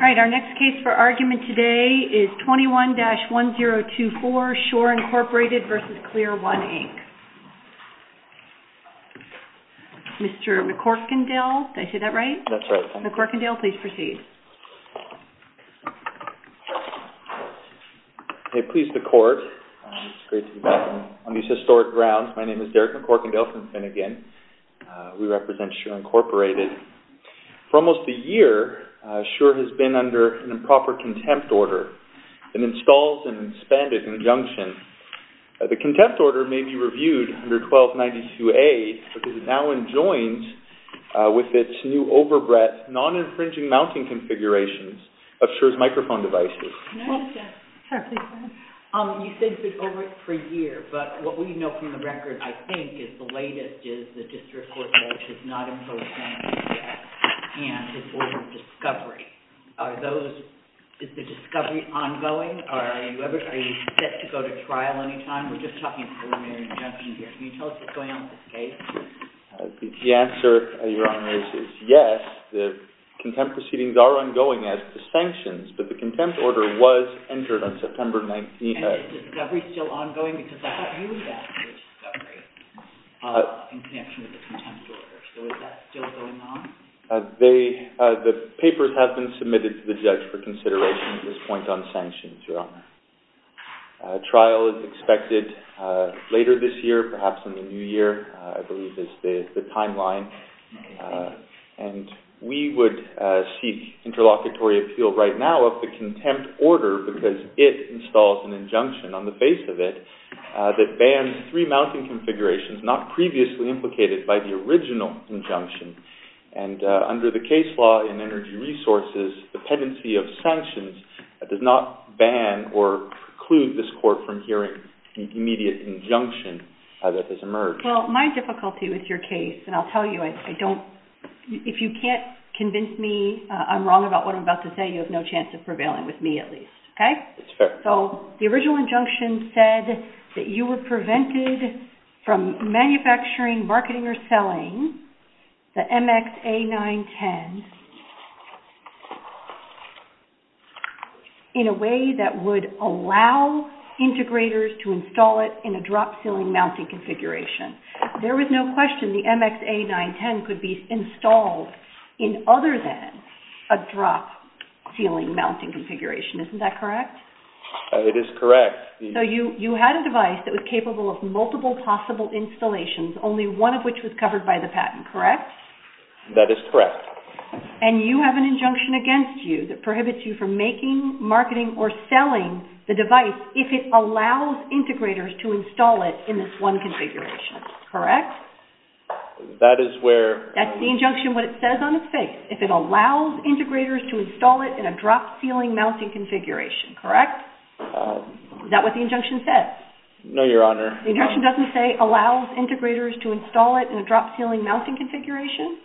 Our next case for argument today is 21-1024, Shure Incorporated v. ClearOne, Inc. Mr. McCorkendale, did I say that right? That's right. Mr. McCorkendale, please proceed. Pleased to court. It's great to be back on these historic grounds. My name is Derek McCorkendale from Finnegan. We represent Shure Incorporated. For almost a year, Shure has been under an improper contempt order. It installs and expanded in conjunction. The contempt order may be reviewed under 1292A because it now adjoins with its new overbred non-infringing mounting configurations of Shure's microphone devices. You said it's been overbred for a year, but what we know from the record, I think, is the latest is the district court judge has not imposed anything yet, and it's ordered discovery. Is the discovery ongoing? Are you set to go to trial anytime? We're just talking preliminary injunction here. Can you tell us what's going on with this case? The answer, Your Honor, is yes. The contempt proceedings are ongoing as is sanctions, but the contempt order was entered on September 19th. Is the discovery still ongoing? Because that's what you were asking, the discovery, in connection with the contempt order. So is that still going on? The papers have been submitted to the judge for consideration at this point on sanctions, Your Honor. A trial is expected later this year, perhaps in the new year, I believe is the timeline, and we would seek interlocutory appeal right now of the contempt order because it installs an injunction on the face of it that bans three mounting configurations not previously implicated by the original injunction. And under the case law in energy resources, the pendency of sanctions does not ban or preclude this court from hearing the immediate injunction that has emerged. Well, my difficulty with your case, and I'll tell you, if you can't convince me I'm wrong about what I'm about to say, you have no chance of prevailing with me at least, okay? That's fair. So the original injunction said that you were prevented from manufacturing, marketing, or selling the MX-A910 in a way that would allow integrators to install it in a drop ceiling mounting configuration. There was no question the MX-A910 could be installed in other than a drop ceiling mounting configuration. Isn't that correct? It is correct. So you had a device that was capable of multiple possible installations, only one of which was covered by the patent, correct? That is correct. And you have an injunction against you that prohibits you from making, marketing, or selling the device if it allows integrators to install it in this one configuration, correct? That is where... That's the injunction, what it says on its face, if it allows integrators to install it in a drop ceiling mounting configuration, correct? Is that what the injunction says? No, Your Honor. The injunction doesn't say allows integrators to install it in a drop ceiling mounting configuration?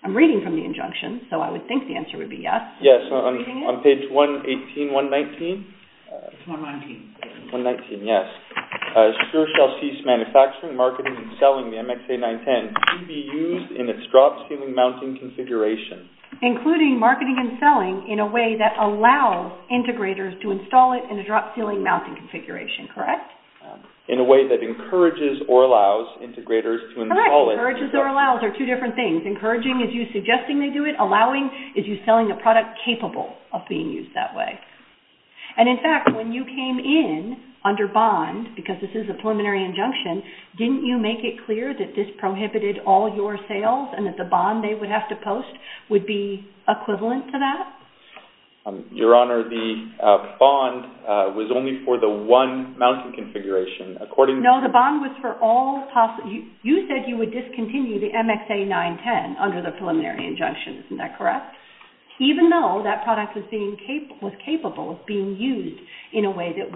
I'm reading from the injunction, so I would think the answer would be yes. Yes, on page 118, 119? 119. 119, yes. Sure shall cease manufacturing, marketing, and selling the MX-A910 to be used in its drop ceiling mounting configuration. Including marketing and selling in a way that allows integrators to install it in a drop ceiling mounting configuration, correct? In a way that encourages or allows integrators to install it. Correct, encourages or allows are two different things. Encouraging is you suggesting they do it. Allowing is you selling a product capable of being used that way. And in fact, when you came in under bond, because this is a preliminary injunction, didn't you make it clear that this prohibited all your sales and that the bond they would have to post would be equivalent to that? Your Honor, the bond was only for the one mounting configuration. No, the bond was for all possible. You said you would discontinue the MX-A910 under the preliminary injunction. Isn't that correct? Even though that product was capable of being used in a way that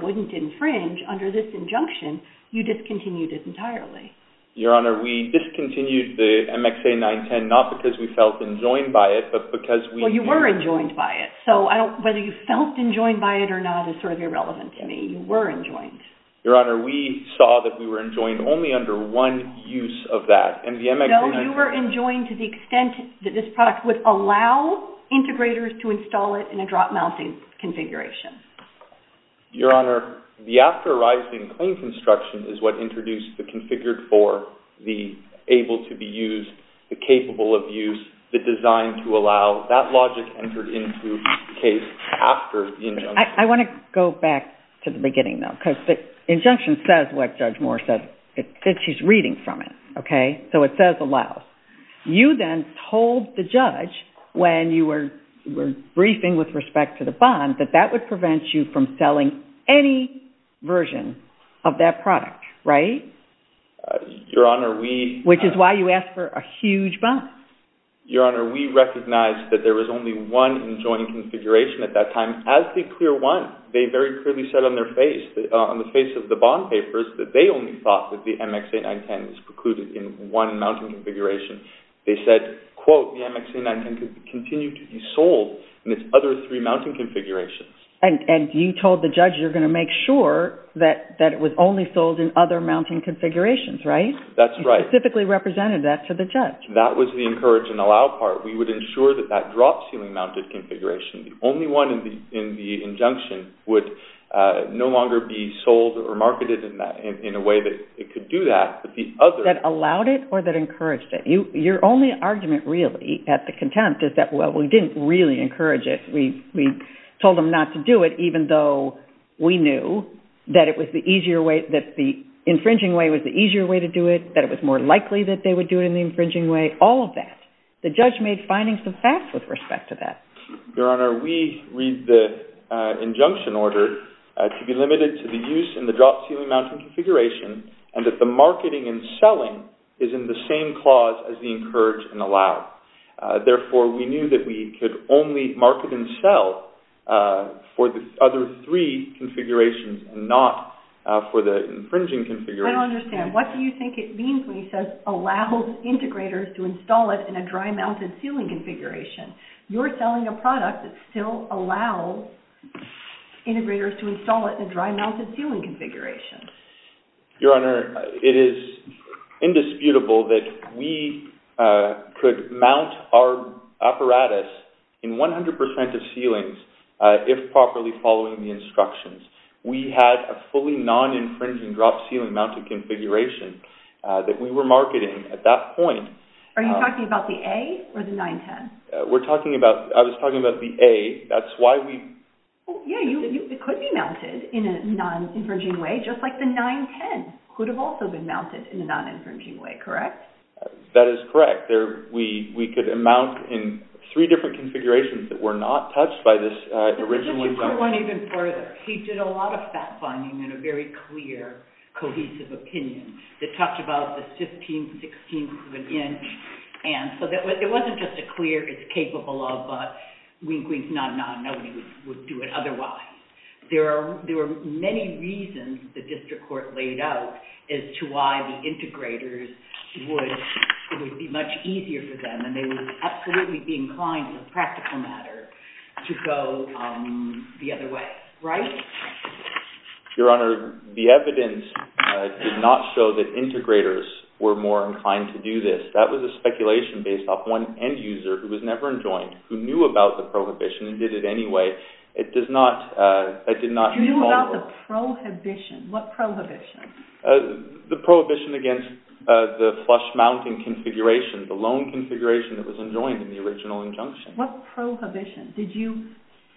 Your Honor, we discontinued the MX-A910 not because we felt enjoined by it, but because we... Well, you were enjoined by it. So whether you felt enjoined by it or not is sort of irrelevant to me. You were enjoined. Your Honor, we saw that we were enjoined only under one use of that. And the MX-A910... No, you were enjoined to the extent that this product would allow integrators to install it in a drop mounting configuration. Your Honor, the after arising clean construction is what introduced the configured for, the able to be used, the capable of use, the design to allow. That logic entered into the case after the injunction. I want to go back to the beginning, though, because the injunction says what Judge Moore said. She's reading from it, okay? So it says allow. You then told the judge when you were briefing with respect to the bond that that would prevent you from selling any version of that product, right? Your Honor, we... Which is why you asked for a huge bond. Your Honor, we recognized that there was only one enjoined configuration at that time. As the clear one, they very clearly said on their face, on the face of the bond papers, that they only thought that the MX-A910 is precluded in one mounting configuration. They said, quote, The MX-A910 could continue to be sold in its other three mounting configurations. And you told the judge you're going to make sure that it was only sold in other mounting configurations, right? That's right. You specifically represented that to the judge. That was the encourage and allow part. We would ensure that that drop ceiling mounted configuration, the only one in the injunction, would no longer be sold or marketed in a way that it could do that, but the other... That allowed it or that encouraged it. Your only argument really at the contempt is that, well, we didn't really encourage it. We told them not to do it, even though we knew that it was the easier way, that the infringing way was the easier way to do it, that it was more likely that they would do it in the infringing way, all of that. The judge made findings of facts with respect to that. Your Honor, we read the injunction order to be limited to the use in the drop ceiling mounting configuration and that the marketing and selling is in the same clause as the encourage and allow. Therefore, we knew that we could only market and sell for the other three configurations and not for the infringing configuration. I don't understand. What do you think it means when he says allows integrators to install it in a dry mounted ceiling configuration? You're selling a product that still allows integrators to install it in a dry mounted ceiling configuration. Your Honor, it is indisputable that we could mount our apparatus in 100% of ceilings if properly following the instructions. We had a fully non-infringing drop ceiling mounted configuration that we were marketing at that point. Are you talking about the A or the 910? We're talking about, I was talking about the A. That's why we... Yeah, it could be mounted in a non-infringing way just like the 910 could have also been mounted in a non-infringing way, correct? That is correct. We could mount in three different configurations that were not touched by this original... Let's go one even further. He did a lot of fact-finding and a very clear, cohesive opinion that talked about the 15, 16 inch and so it wasn't just a clear it's capable of but wink, wink, nod, nod, nobody would do it otherwise. There were many reasons the district court laid out as to why the integrators would... it would be much easier for them and they would absolutely be inclined in a practical matter to go the other way, right? Your Honour, the evidence did not show that integrators were more inclined to do this. That was a speculation based off one end user who was never enjoined, who knew about the prohibition and did it anyway. It does not... You knew about the prohibition. What prohibition? The prohibition against the flush mounting configuration, the lone configuration that was enjoined in the original injunction. What prohibition? Did you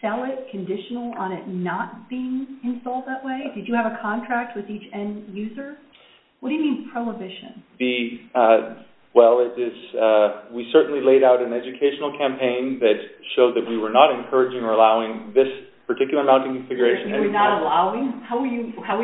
sell it conditional on it not being installed that way? Did you have a contract with each end user? What do you mean prohibition? Well, we certainly laid out an educational campaign that showed that we were not encouraging or allowing this particular mounting configuration... You were not allowing? How were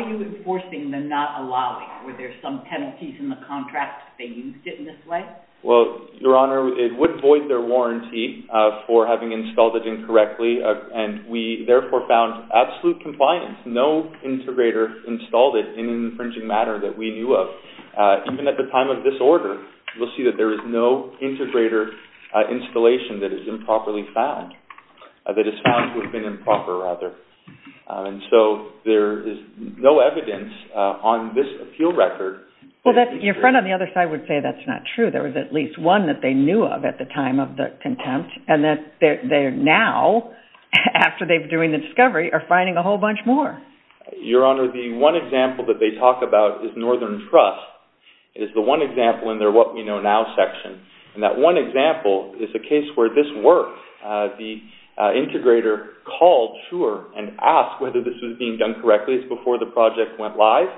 you enforcing the not allowing? Were there some penalties in the contract if they used it in this way? Well, Your Honour, it would void their warranty for having installed it incorrectly and we therefore found absolute compliance. No integrator installed it in an infringing manner that we knew of. Even at the time of this order, we'll see that there is no integrator installation that is improperly found that is found to have been improper, rather. And so there is no evidence on this appeal record... Well, your friend on the other side would say that's not true. There was at least one that they knew of at the time of the contempt and that they're now, after they're doing the discovery, are finding a whole bunch more. Your Honour, the one example that they talk about is Northern Trust, is the one example in their What We Know Now section. And that one example is a case where this works. The integrator called, sure, and asked whether this was being done correctly. It's before the project went live.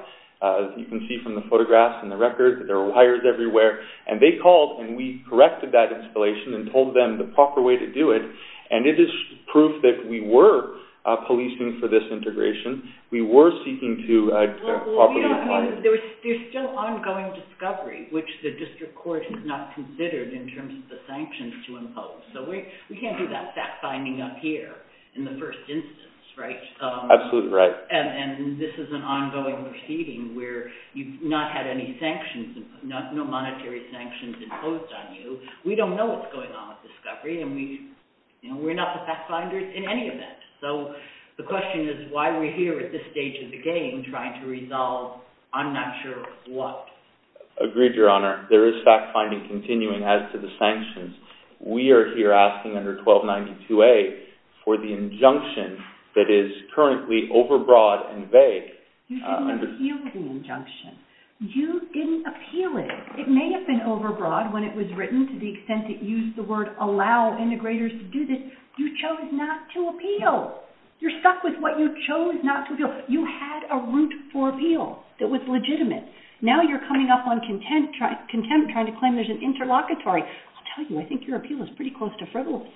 You can see from the photographs and the records that there are wires everywhere. And they called and we corrected that installation and told them the proper way to do it. And it is proof that we were policing for this integration. We were seeking to properly... There's still ongoing discovery, which the district court has not considered in terms of the sanctions to impose. So we can't do that fact-finding up here in the first instance, right? Absolutely right. And this is an ongoing proceeding where you've not had any sanctions, no monetary sanctions imposed on you. We don't know what's going on with discovery and we're not the fact-finders in any event. So the question is why we're here at this stage of the game trying to resolve I'm not sure what. Agreed, Your Honour. There is fact-finding continuing as to the sanctions. We are here asking under 1292A for the injunction that is currently overbroad and vague. You didn't appeal the injunction. You didn't appeal it. It may have been overbroad when it was written to the extent it used the word allow integrators to do this. You chose not to appeal. You're stuck with what you chose not to appeal. You had a route for appeal that was legitimate. Now you're coming up on contempt trying to claim there's an interlocutory. I'll tell you, I think your appeal is pretty close to frivolous.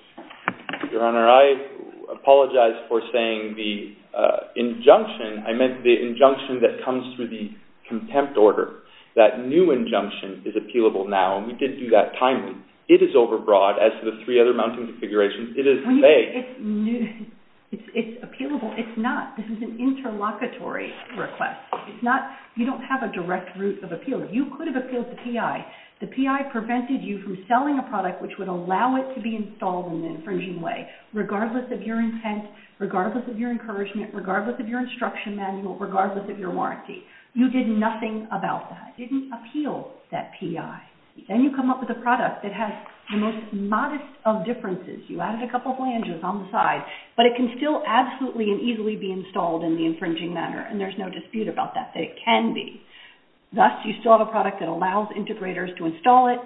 Your Honour, I apologize for saying the injunction. I meant the injunction that comes through the contempt order. That new injunction is appealable now, and we did do that timely. It is overbroad as to the three other mounting configurations. It is vague. It's appealable. It's not. This is an interlocutory request. It's not. You don't have a direct route of appeal. You could have appealed to PI. The PI prevented you from selling a product which would allow it to be installed in an infringing way regardless of your intent, regardless of your encouragement, regardless of your instruction manual, regardless of your warranty. You did nothing about that. You didn't appeal that PI. Then you come up with a product that has the most modest of differences. You added a couple flanges on the side, but it can still absolutely and easily be installed in the infringing manner, and there's no dispute about that, that it can be. Thus, you still have a product that allows integrators to install it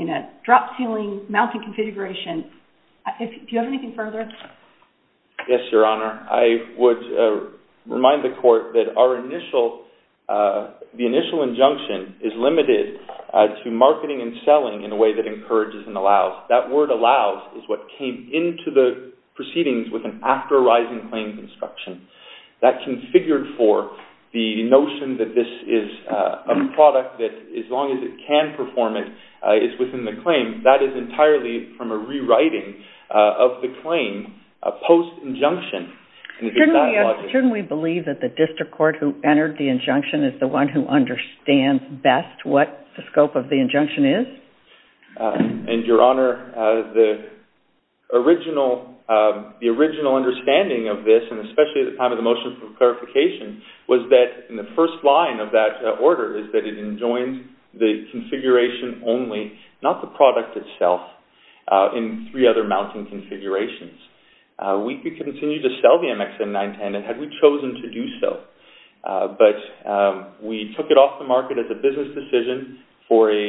in a drop ceiling mounting configuration. Do you have anything further? Yes, Your Honor. I would remind the court that our initial, the initial injunction is limited to marketing and selling in a way that encourages and allows. That word allows is what came into the proceedings with an after arising claim construction. That configured for the notion that this is a product that, as long as it can perform it, is within the claim. That is entirely from a rewriting of the claim post-injunction. Shouldn't we believe that the district court who entered the injunction is the one who understands best what the scope of the injunction is? And, Your Honor, the original understanding of this, and especially at the time of the motion for clarification, was that in the first line of that order is that it enjoins the configuration only, not the product itself, in three other mounting configurations. We could continue to sell the MXN-910 and had we chosen to do so, but we took it off the market as a business decision for a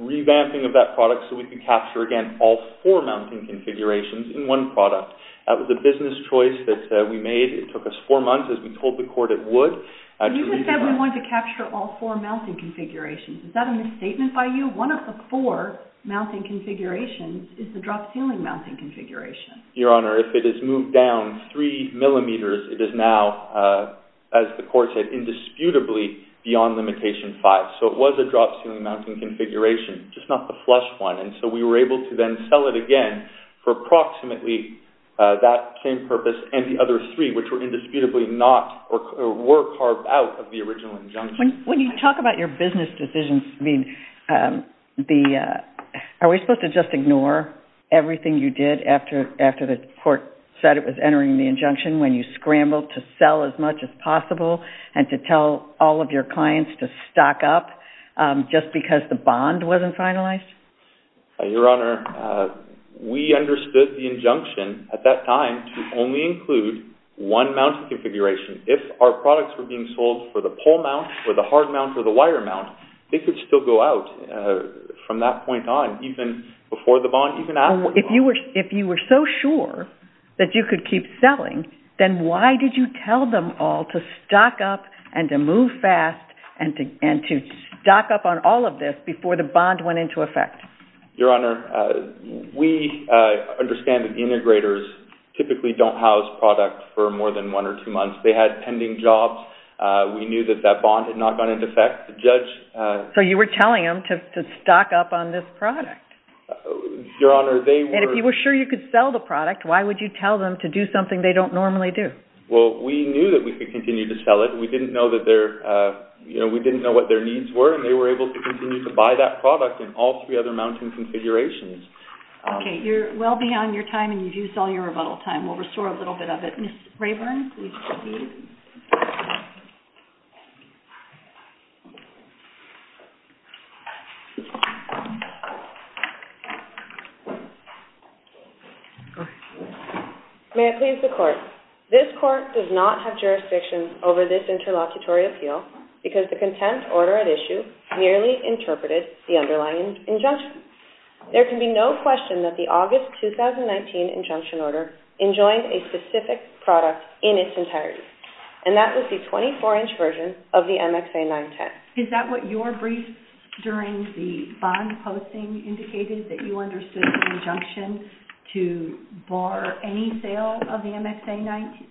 revamping of that product so we could capture, again, all four mounting configurations in one product. That was a business choice that we made. It took us four months. As we told the court, it would. And you said we wanted to capture all four mounting configurations. Is that a misstatement by you? One of the four mounting configurations is the drop ceiling mounting configuration. Your Honor, if it is moved down three millimeters, it is now, as the court said, indisputably beyond limitation five. So it was a drop ceiling mounting configuration, just not the flush one. And so we were able to then sell it again for approximately that same purpose and the other three, which were indisputably not, or were carved out of the original injunction. When you talk about your business decisions, are we supposed to just ignore everything you did after the court said it was entering the injunction when you scrambled to sell as much as possible and to tell all of your clients to stock up just because the bond wasn't finalized? Your Honor, we understood the injunction at that time to only include one mounting configuration. If our products were being sold for the pole mount or the hard mount or the wire mount, they could still go out from that point on, even before the bond, even after the bond. If you were so sure that you could keep selling, then why did you tell them all to stock up and to move fast and to stock up on all of this before the bond went into effect? Your Honor, we understand that the integrators typically don't house products for more than one or two months. They had pending jobs. We knew that that bond had not gone into effect. The judge... So you were telling them to stock up on this product. Your Honor, they were... And if you were sure you could sell the product, why would you tell them to do something they don't normally do? Well, we knew that we could continue to sell it. We didn't know what their needs were, and they were able to continue to buy that product and all three other mounting configurations. Okay, you're well beyond your time, and you've used all your rebuttal time. We'll restore a little bit of it. Ms. Rayburn, please proceed. May it please the Court, this Court does not have jurisdiction over this interlocutory appeal because the content order at issue merely interpreted the underlying injunction. There can be no question that the August 2019 injunction order enjoined a specific product in its entirety, and that was the 24-inch version of the MXA 910. Is that what your brief during the bond posting indicated, that you understood the injunction to bar any sale of the MXA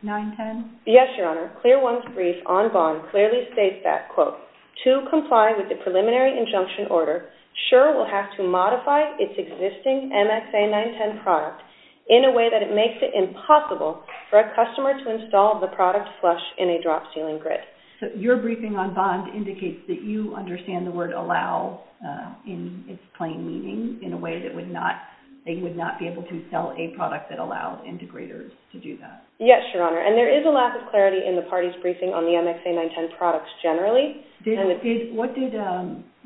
910? Yes, Your Honor. Clear One's brief on bond clearly states that, quote, to comply with the preliminary injunction order, SURE will have to modify its existing MXA 910 product in a way that it makes it impossible for a customer to install the product flush in a drop ceiling grid. So your briefing on bond indicates that you understand the word allow in its plain meaning in a way that they would not be able to sell a product that allowed integrators to do that. Yes, Your Honor, and there is a lack of clarity in the party's briefing on the MXA 910 products generally.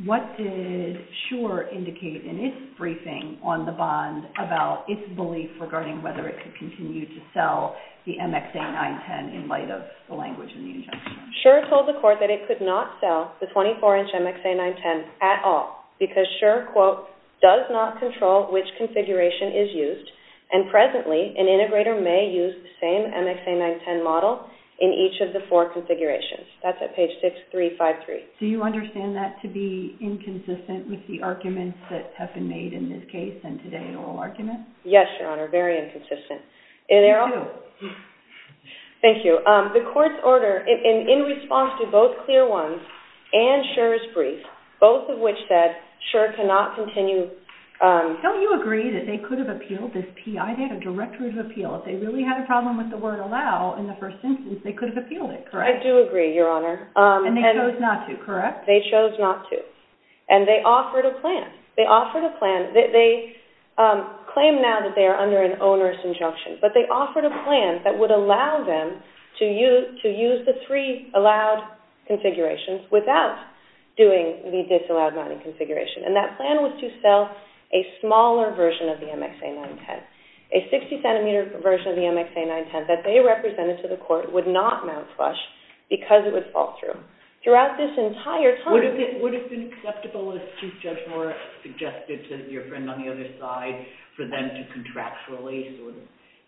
What did SURE indicate in its briefing on the bond about its belief regarding whether it could continue to sell the MXA 910 in light of the language in the injunction? SURE told the court that it could not sell the 24-inch MXA 910 at all because SURE, quote, does not control which configuration is used, and presently an integrator may use the same MXA 910 model in each of the four configurations. That's at page 6353. Do you understand that to be inconsistent with the arguments that have been made in this case and today in oral arguments? Yes, Your Honor, very inconsistent. Thank you. Thank you. The court's order in response to both clear ones and SURE's brief, both of which said SURE cannot continue... Don't you agree that they could have appealed this P.I.? They had a directory of appeal. If they really had a problem with the word allow in the first sentence, they could have appealed it, correct? I do agree, Your Honor. And they chose not to, correct? They chose not to, and they offered a plan. They claimed now that they are under an onerous injunction, but they offered a plan that would allow them to use the three allowed configurations without doing the disallowed mounting configuration, and that plan was to sell a smaller version of the MXA 910. A 60-centimeter version of the MXA 910 that they represented to the court would not mount flush because it would fall through. Throughout this entire time... Would it have been acceptable, as Chief Judge Moore suggested to your friend on the other side, for them to contractually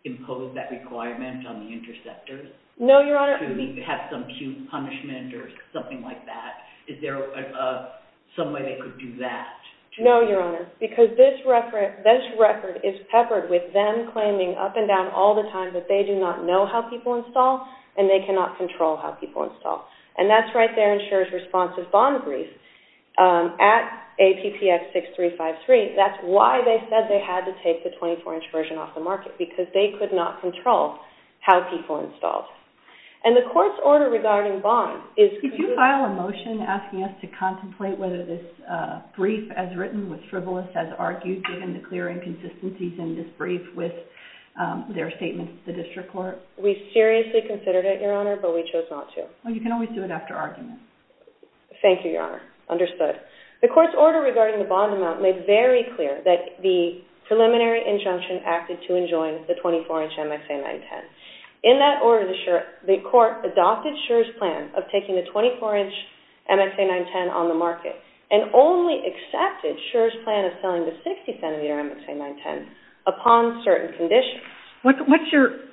impose that requirement on the interceptors? No, Your Honor. To have some punishment or something like that? Is there some way they could do that? No, Your Honor, because this record is peppered with them claiming up and down all the time that they do not know how people install, and they cannot control how people install. And that's right there in Shura's responsive bond brief. At APTX 6353, that's why they said they had to take the 24-inch version off the market, because they could not control how people installed. And the court's order regarding bonds is... Could you file a motion asking us to contemplate whether this brief, as written, was frivolous, as argued given the clear inconsistencies in this brief with their statements to the district court? We seriously considered it, Your Honor, but we chose not to. Well, you can always do it after argument. Thank you, Your Honor. Understood. The court's order regarding the bond amount made very clear that the preliminary injunction acted to enjoin the 24-inch MXA 910. In that order, the court adopted Shura's plan of taking the 24-inch MXA 910 on the market and only accepted Shura's plan of selling the 60-centimeter MXA 910 upon certain conditions. What's your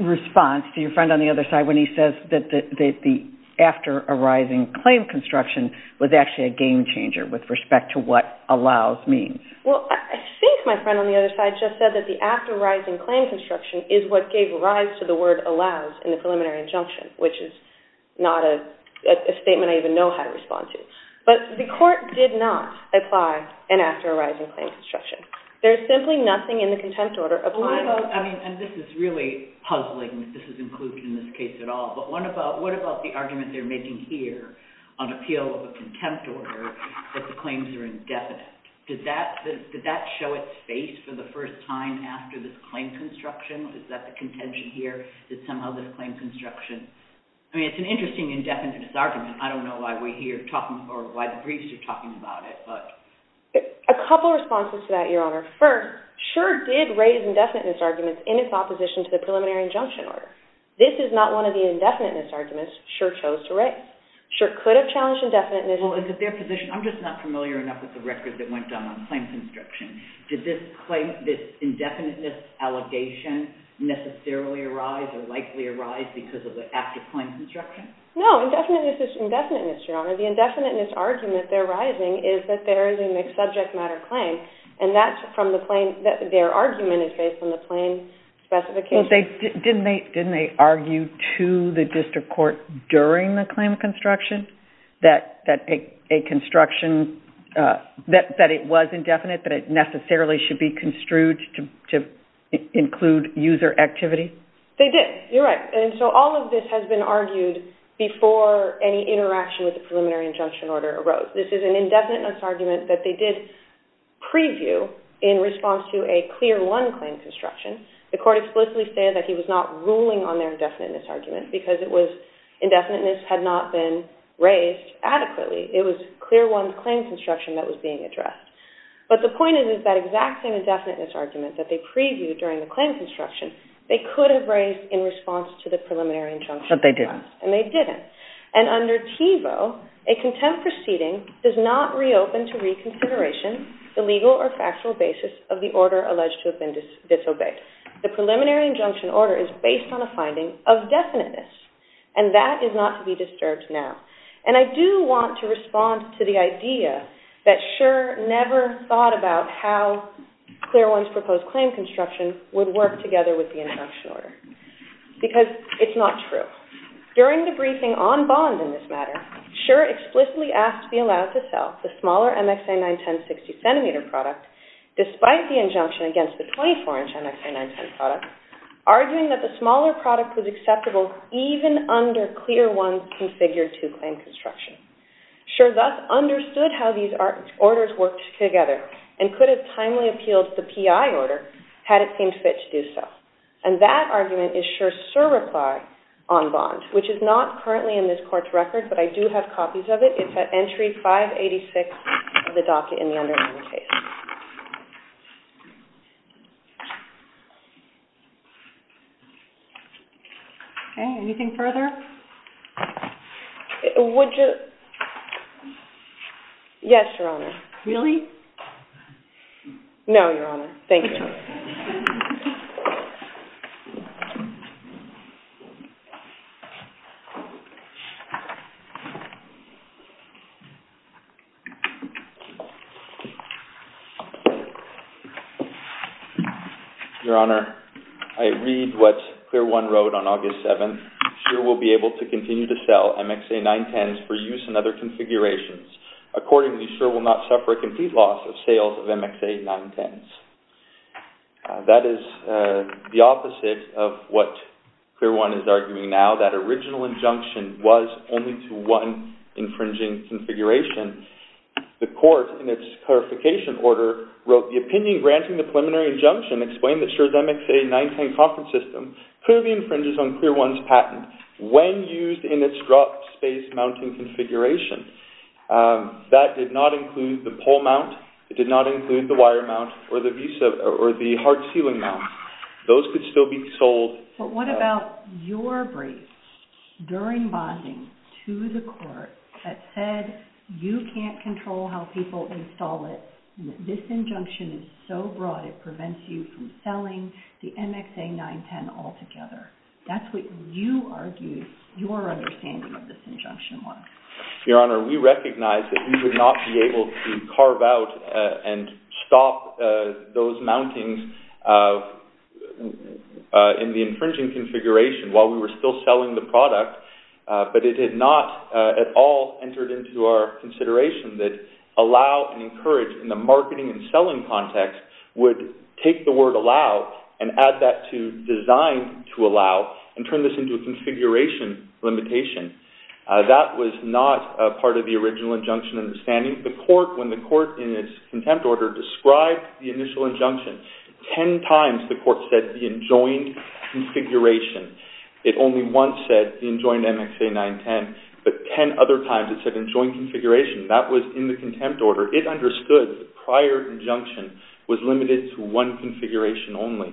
response to your friend on the other side when he says that the after-arising claim construction was actually a game-changer with respect to what allows means? Well, I think my friend on the other side just said that the after-arising claim construction is what gave rise to the word allows in the preliminary injunction, which is not a statement I even know how to respond to. But the court did not apply an after-arising claim construction. There's simply nothing in the contempt order applying... I mean, and this is really puzzling that this is included in this case at all, but what about the argument they're making here on appeal of a contempt order that the claims are indefinite? Did that show its face for the first time after this claim construction? Is that the contention here, that somehow this claim construction... I mean, it's an interesting indefinite disargument. I don't know why we're here talking... or why the briefs are talking about it, but... A couple of responses to that, Your Honour. First, Schur did raise indefiniteness arguments in his opposition to the preliminary injunction order. This is not one of the indefiniteness arguments Schur chose to raise. Schur could have challenged indefiniteness... Well, is it their position? I'm just not familiar enough with the record that went down on claims construction. or likely arise because of the after-claims construction? No, indefiniteness is indefiniteness, Your Honour. The indefiniteness argument they're raising is that there is a mixed-subject matter claim, and that's from the claim... their argument is based on the claim specification. Didn't they argue to the district court during the claim construction, that a construction... that it was indefinite, that it necessarily should be construed to include user activity? They did. You're right. And so all of this has been argued before any interaction with the preliminary injunction order arose. This is an indefiniteness argument that they did preview in response to a clear one claim construction. The court explicitly stated that he was not ruling on their indefiniteness argument because it was... indefiniteness had not been raised adequately. It was clear one claim construction that was being addressed. But the point is that exact same indefiniteness argument that they previewed during the claim construction, they could have raised in response to the preliminary injunction. But they didn't. And they didn't. And under TEVO, a contempt proceeding does not reopen to reconsideration the legal or factual basis of the order alleged to have been disobeyed. The preliminary injunction order is based on a finding of definiteness, and that is not to be disturbed now. And I do want to respond to the idea that Schur never thought about how clear one's proposed claim construction would work together with the injunction order. Because it's not true. During the briefing on bond in this matter, Schur explicitly asked to be allowed to sell the smaller MXA 910 60cm product despite the injunction against the 24-inch MXA 910 product, arguing that the smaller product was acceptable even under clear one's configured two-claim construction. Schur thus understood how these orders worked together and could have timely appealed the PI order had it seemed fit to do so. And that argument is Schur's sure reply on bond, which is not currently in this court's record, but I do have copies of it. It's at entry 586 of the docket in the underlying case. Okay, anything further? Yes, Your Honor. Really? No, Your Honor. Thank you. Your Honor, I read what clear one wrote on August 7th. Schur will be able to continue to sell MXA 910s for use in other configurations. Accordingly, Schur will not suffer a complete loss of sales of MXA 910s. That is the opposite of what clear one is arguing now. That original injunction was only to one infringing configuration. The court, in its clarification order, wrote the opinion granting the preliminary injunction explained that Schur's MXA 910 conference system clearly infringes on clear one's patent when used in its drop-space mounting configuration. That did not include the pole mount. It did not include the wire mount or the hard ceiling mount. Those could still be sold. But what about your brief during bonding to the court that said you can't control how people install it and that this injunction is so broad it prevents you from selling the MXA 910 altogether. That's what you argued your understanding of this We recognize that we would not be able to carve out and stop those mountings in the infringing configuration while we were still selling the product. But it had not at all entered into our consideration that allow and encourage in the marketing and selling context would take the word allow and add that to design to allow and turn this into a configuration limitation. That was not part of the original injunction understanding. When the court in its contempt order described the initial injunction ten times the court said the enjoined configuration. It only once said the enjoined MXA 910. But ten other times it said enjoined configuration. That was in the contempt order. It understood the prior injunction was limited to one configuration only.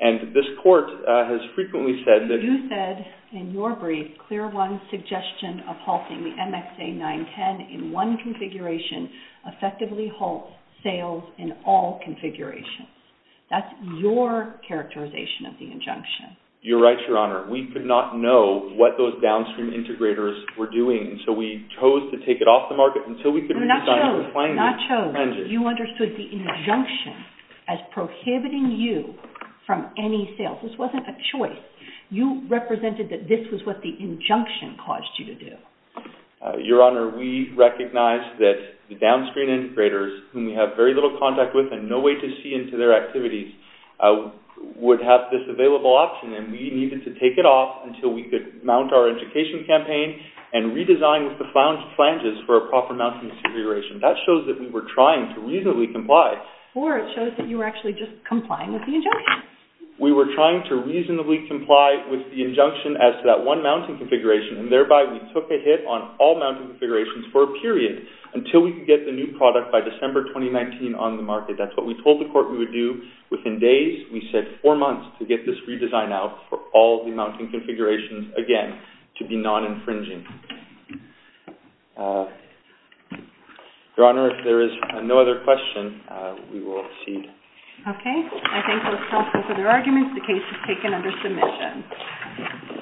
And this court has frequently said that you said in your brief clear one suggestion of halting the MXA 910 in one configuration effectively halts sales in all configurations. That's your characterization of the injunction. You're right, Your Honor. We could not know what those downstream integrators were doing. So we chose to take it off the market until we could redesign it. You understood the injunction as prohibiting you from any sales. This wasn't a choice. You represented that this was what the injunction caused you to do. Your Honor, we recognized that the downstream integrators whom we have very little contact with and no way to see into their activities would have this available option and we needed to take it off until we could mount our education campaign and redesign with the flanges for a proper mounting configuration. That shows that we were trying to reasonably comply. Or it shows that you were actually just trying to reasonably comply with the injunction as to that one mounting configuration and thereby we took a hit on all mounting configurations for a period until we could get the new product by December 2019 on the market. That's what we told the court we would do within days. We said four months to get this redesign out for all the mounting configurations again to be non-infringing. Your Honor, if there is no other question we will cede. I thank both counsel for their arguments. The case is taken under submission.